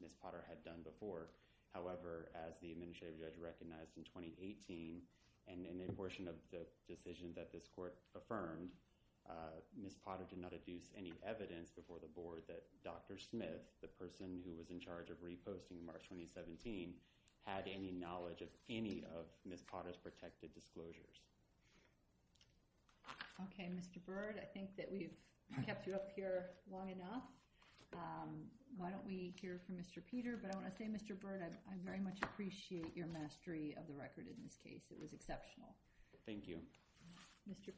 Ms. Potter had done before. However, as the administrative judge recognized in 2018, and in the portion of the decision that this court affirmed, Ms. Potter did not adduce any evidence before the board that Dr. Smith, the person who was in charge of reposting in March 2017, had any knowledge of any of Ms. Potter's protected disclosures. Okay, Mr. Byrd, I think that we've kept you up here long enough. Why don't we hear from Mr. Peter? But I want to say, Mr. Byrd, I very much appreciate your mastery of the record in this case. It was exceptional. Thank you. Mr.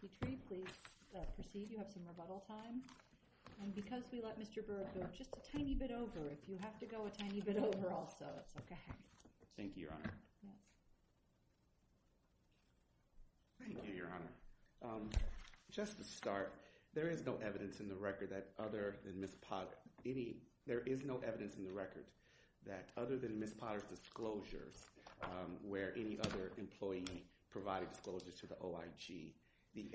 Petrie, please proceed. You have some rebuttal time. And because we let Mr. Byrd go just a tiny bit over, if you have to go a tiny bit over also, it's okay. Thank you, Your Honor. Thank you, Your Honor. Just to start, there is no evidence in the record that other than Ms. Potter's disclosures where any other employee provided disclosures to the OIG.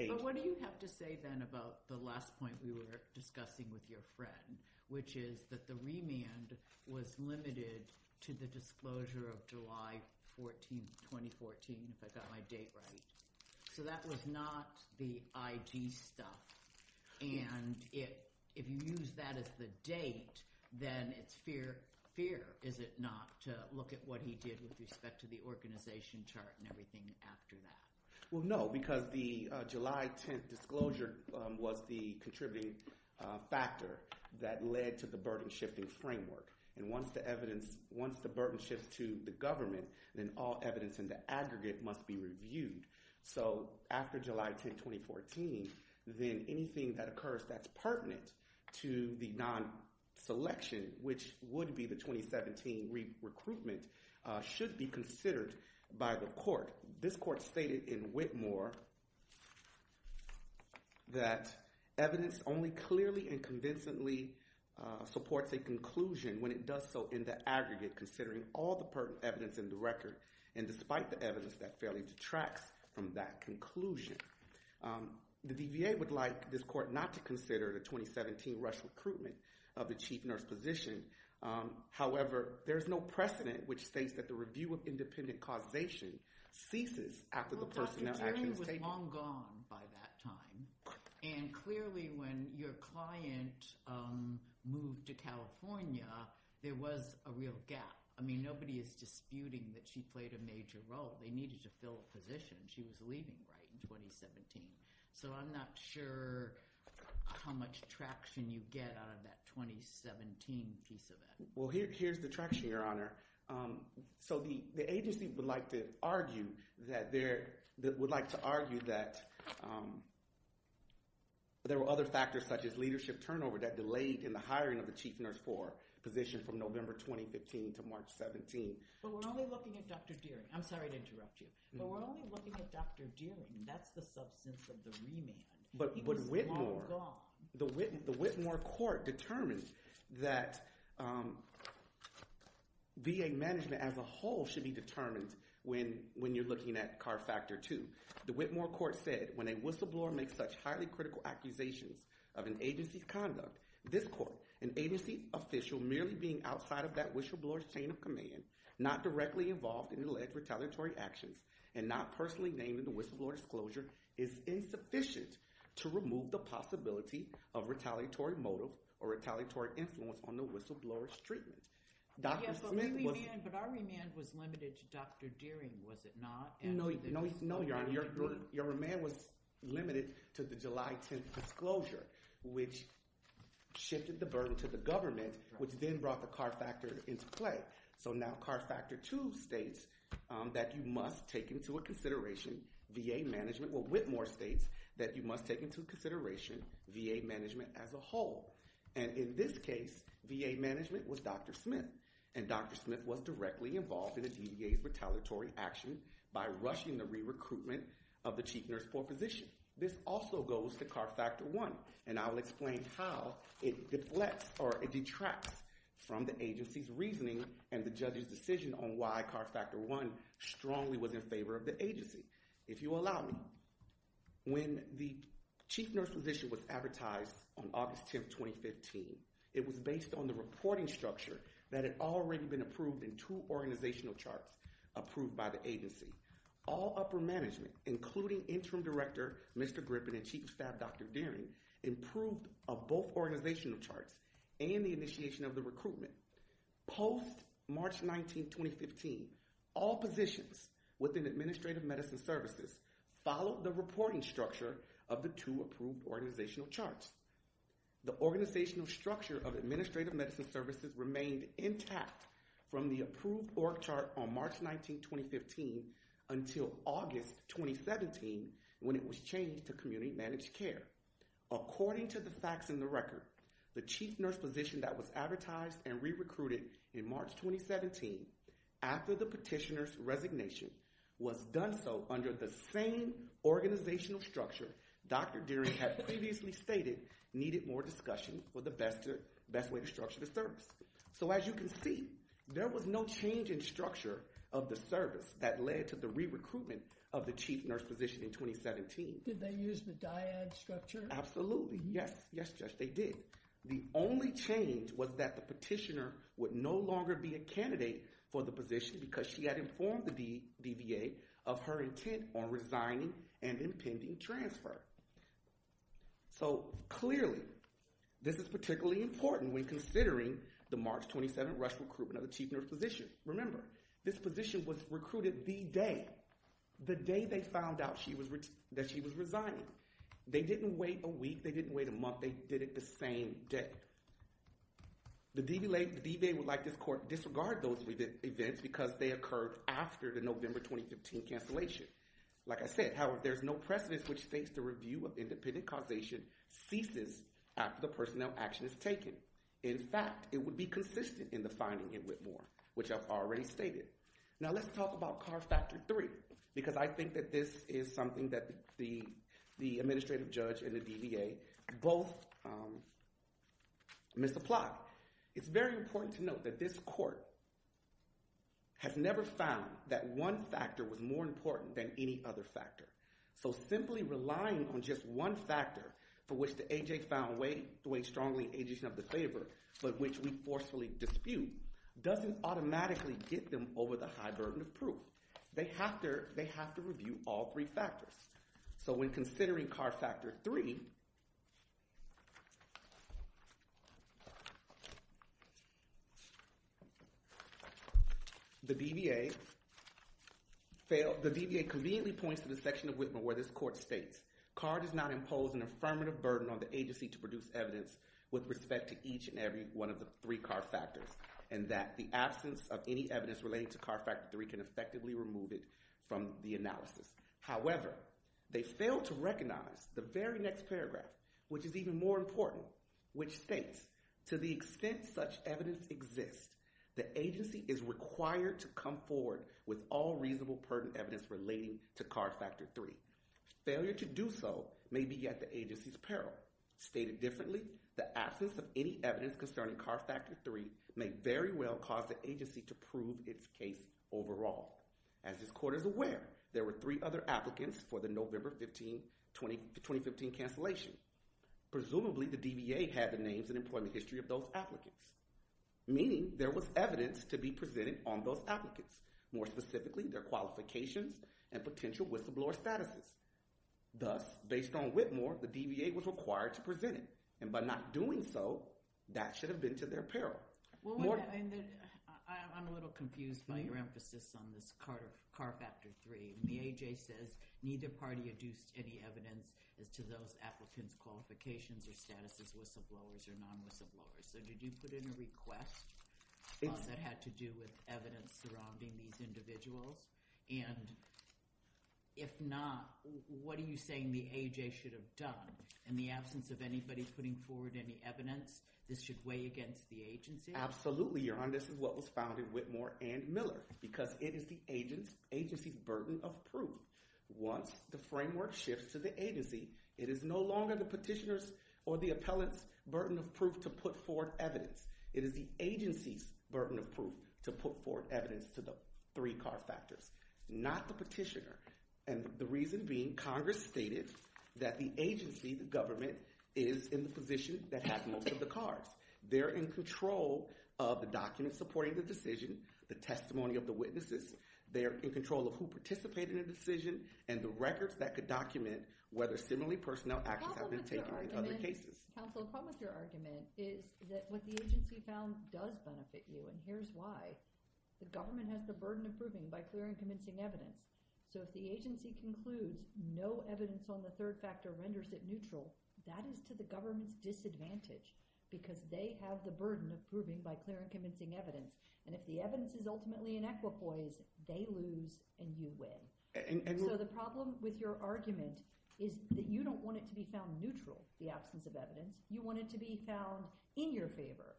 But what do you have to say then about the last point we were discussing with your friend, which is that the remand was limited to the disclosure of July 14, 2014, if I got my date right. So that was not the IG stuff. And if you use that as the date, then it's fair, is it not, to look at what he did with respect to the organization chart and everything after that? Well, no, because the July 10th disclosure was the contributing factor that led to the burden-shifting framework. And once the burden shifts to the government, then all evidence in the aggregate must be reviewed. So after July 10, 2014, then anything that occurs that's pertinent to the non-selection, which would be the 2017 recruitment, should be considered by the court. This court stated in Whitmore that evidence only clearly and convincingly supports a conclusion when it does so in the aggregate, considering all the pertinent evidence in the record, and despite the evidence, that fairly detracts from that conclusion. The DVA would like this court not to consider the 2017 rush recruitment of the chief nurse physician. However, there is no precedent which states that the review of independent causation ceases after the personnel action is taken. Well, Dr. Terry was long gone by that time. And clearly, when your client moved to California, there was a real gap. I mean, nobody is disputing that she played a major role. They needed to fill a position. She was leaving right in 2017. So I'm not sure how much traction you get out of that 2017 piece of it. Well, here's the traction, Your Honor. So the agency would like to argue that there were other factors such as leadership turnover that delayed in the hiring of the chief nurse for physicians from November 2015 to March 17. But we're only looking at Dr. Deering. I'm sorry to interrupt you. But we're only looking at Dr. Deering. That's the substance of the remand. But Whitmore, the Whitmore court determined that VA management as a whole should be determined when you're looking at CAR Factor 2. The Whitmore court said, when a whistleblower makes such highly critical accusations of an agency's conduct, this court, an agency official merely being outside of that whistleblower's chain of command, not directly involved in alleged retaliatory actions, and not personally named in the whistleblower's disclosure is insufficient to remove the possibility of retaliatory motive or retaliatory influence on the whistleblower's treatment. Yes, but our remand was limited to Dr. Deering, was it not? No, Your Honor. Your remand was limited to the July 10th disclosure, which shifted the burden to the government, which then brought the CAR Factor into play. So now CAR Factor 2 states that you must take into consideration VA management. Well, Whitmore states that you must take into consideration VA management as a whole. And in this case, VA management was Dr. Smith. And Dr. Smith was directly involved in a DVA retaliatory action by rushing the re-recruitment of the chief nurse corps physician. This also goes to CAR Factor 1, and I'll explain how it deflects or detracts from the agency's reasoning and the judge's decision on why CAR Factor 1 strongly was in favor of the agency. If you'll allow me, when the chief nurse physician was advertised on August 10th, 2015, it was based on the reporting structure that had already been approved in two organizational charts approved by the agency. All upper management, including Interim Director Mr. Griffin and Chief of Staff Dr. Deering, approved both organizational charts and the initiation of the recruitment. Post-March 19, 2015, all positions within Administrative Medicine Services followed the reporting structure of the two approved organizational charts. The organizational structure of Administrative Medicine Services remained intact from the approved org chart on March 19, 2015 until August 2017 when it was changed to community managed care. According to the facts in the record, the chief nurse physician that was advertised and re-recruited in March 2017 after the petitioner's resignation was done so under the same organizational structure Dr. Deering had previously stated needed more discussion for the best way to structure the service. So as you can see, there was no change in structure of the service that led to the re-recruitment of the chief nurse physician in 2017. Did they use the dyad structure? Absolutely, yes. Yes, Judge, they did. The only change was that the petitioner would no longer be a candidate for the position because she had informed the DBA of her intent on resigning and impending transfer. So clearly, this is particularly important when considering the March 27 rush recruitment of the chief nurse physician. Remember, this position was recruited the day, the day they found out that she was resigning. They didn't wait a week. They didn't wait a month. They did it the same day. The DBA would like this court to disregard those events because they occurred after the November 2015 cancellation. Like I said, however, there's no precedence which states the review of independent causation ceases after the personnel action is taken. In fact, it would be consistent in the finding in Whitmore, which I've already stated. Now let's talk about CAR Factor 3 because I think that this is something that the administrative judge and the DBA both misapplied. It's very important to note that this court has never found that one factor was more important than any other factor. So simply relying on just one factor for which the AJ found weight, the way strongly AJ's in the favor, but which we forcefully dispute, doesn't automatically get them over the high burden of proof. They have to review all three factors. So when considering CAR Factor 3, the DBA conveniently points to the section of Whitmore where this court states, CAR does not impose an affirmative burden on the agency to produce evidence with respect to each and every one of the three CAR factors and that the absence of any evidence relating to CAR Factor 3 can effectively remove it from the analysis. However, they fail to recognize the very next paragraph, which is even more important, which states, to the extent such evidence exists, the agency is required to come forward with all reasonable burden evidence relating to CAR Factor 3. Failure to do so may be at the agency's peril. Stated differently, the absence of any evidence concerning CAR Factor 3 may very well cause the agency to prove its case overall. As this court is aware, there were three other applicants for the November 2015 cancellation. Presumably, the DBA had the names and employment history of those applicants, meaning there was evidence to be presented on those applicants, more specifically their qualifications and potential whistleblower statuses. Thus, based on Whitmore, the DBA was required to present it, and by not doing so, that should have been to their peril. I'm a little confused by your emphasis on this CAR Factor 3. The AHA says neither party adduced any evidence as to those applicants' qualifications or status as whistleblowers or non-whistleblowers. So did you put in a request that had to do with evidence surrounding these individuals? And if not, what are you saying the AHA should have done? In the absence of anybody putting forward any evidence, this should weigh against the agency? Absolutely, Your Honor. This is what was found in Whitmore and Miller, because it is the agency's burden of proof. Once the framework shifts to the agency, it is no longer the petitioner's or the appellant's burden of proof to put forward evidence. It is the agency's burden of proof to put forward evidence to the three CAR Factors, not the petitioner. And the reason being, Congress stated that the agency, the government, is in the position that has most of the CARs. They're in control of the documents supporting the decision, the testimony of the witnesses. They're in control of who participated in the decision and the records that could document whether similarly personnel actions have been taken in other cases. Counsel, a problem with your argument is that what the agency found does benefit you, and here's why. The government has the burden of proving by clear and convincing evidence. So if the agency concludes no evidence on the third factor renders it neutral, that is to the government's disadvantage because they have the burden of proving by clear and convincing evidence. And if the evidence is ultimately inequitable, they lose and you win. So the problem with your argument is that you don't want it to be found neutral, the absence of evidence. You want it to be found in your favor.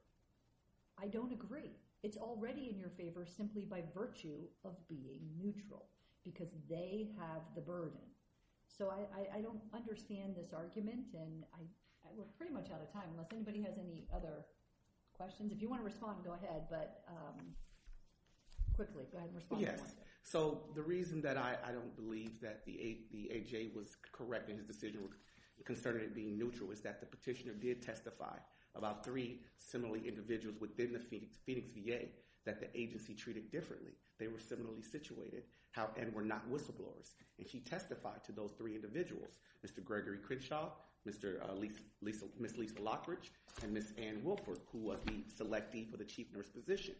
I don't agree. It's already in your favor simply by virtue of being neutral because they have the burden. So I don't understand this argument, and we're pretty much out of time. Unless anybody has any other questions. If you want to respond, go ahead, but quickly, go ahead and respond. Yes. So the reason that I don't believe that the AJ was correct in his decision concerning it being neutral is that the petitioner did testify about three similarly individuals within the Phoenix VA that the agency treated differently. They were similarly situated and were not whistleblowers, and she testified to those three individuals, Mr. Gregory Crenshaw, Ms. Lisa Lockridge, and Ms. Ann Wilford, who was the selectee for the chief nurse physician.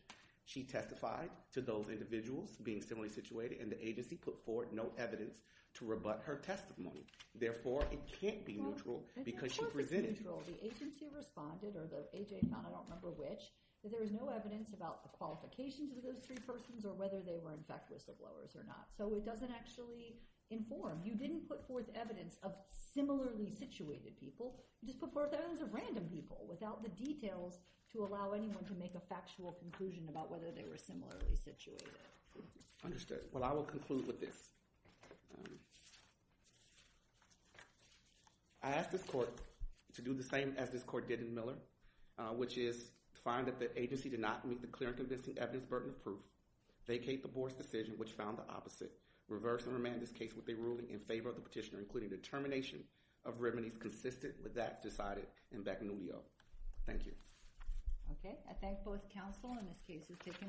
She testified to those individuals being similarly situated, and the agency put forth no evidence to rebut her testimony. Therefore, it can't be neutral because she presented. It can't be neutral. The agency responded, or the AJ found out, I don't remember which, that there was no evidence about the qualifications of those three persons or whether they were, in fact, whistleblowers or not. So it doesn't actually inform. You didn't put forth evidence of similarly situated people. You just put forth evidence of random people without the details to allow anyone to make a factual conclusion about whether they were similarly situated. Understood. Well, I will conclude with this. I ask this court to do the same as this court did in Miller, which is find that the agency did not meet the clear and convincing evidence, burden of proof, vacate the board's decision, which found the opposite, reverse and remand this case with a ruling in favor of the petitioner, including the termination of remedies consistent with that decided in Beccanubio. Thank you. Okay. I thank both counsel. And this case is taken under submission.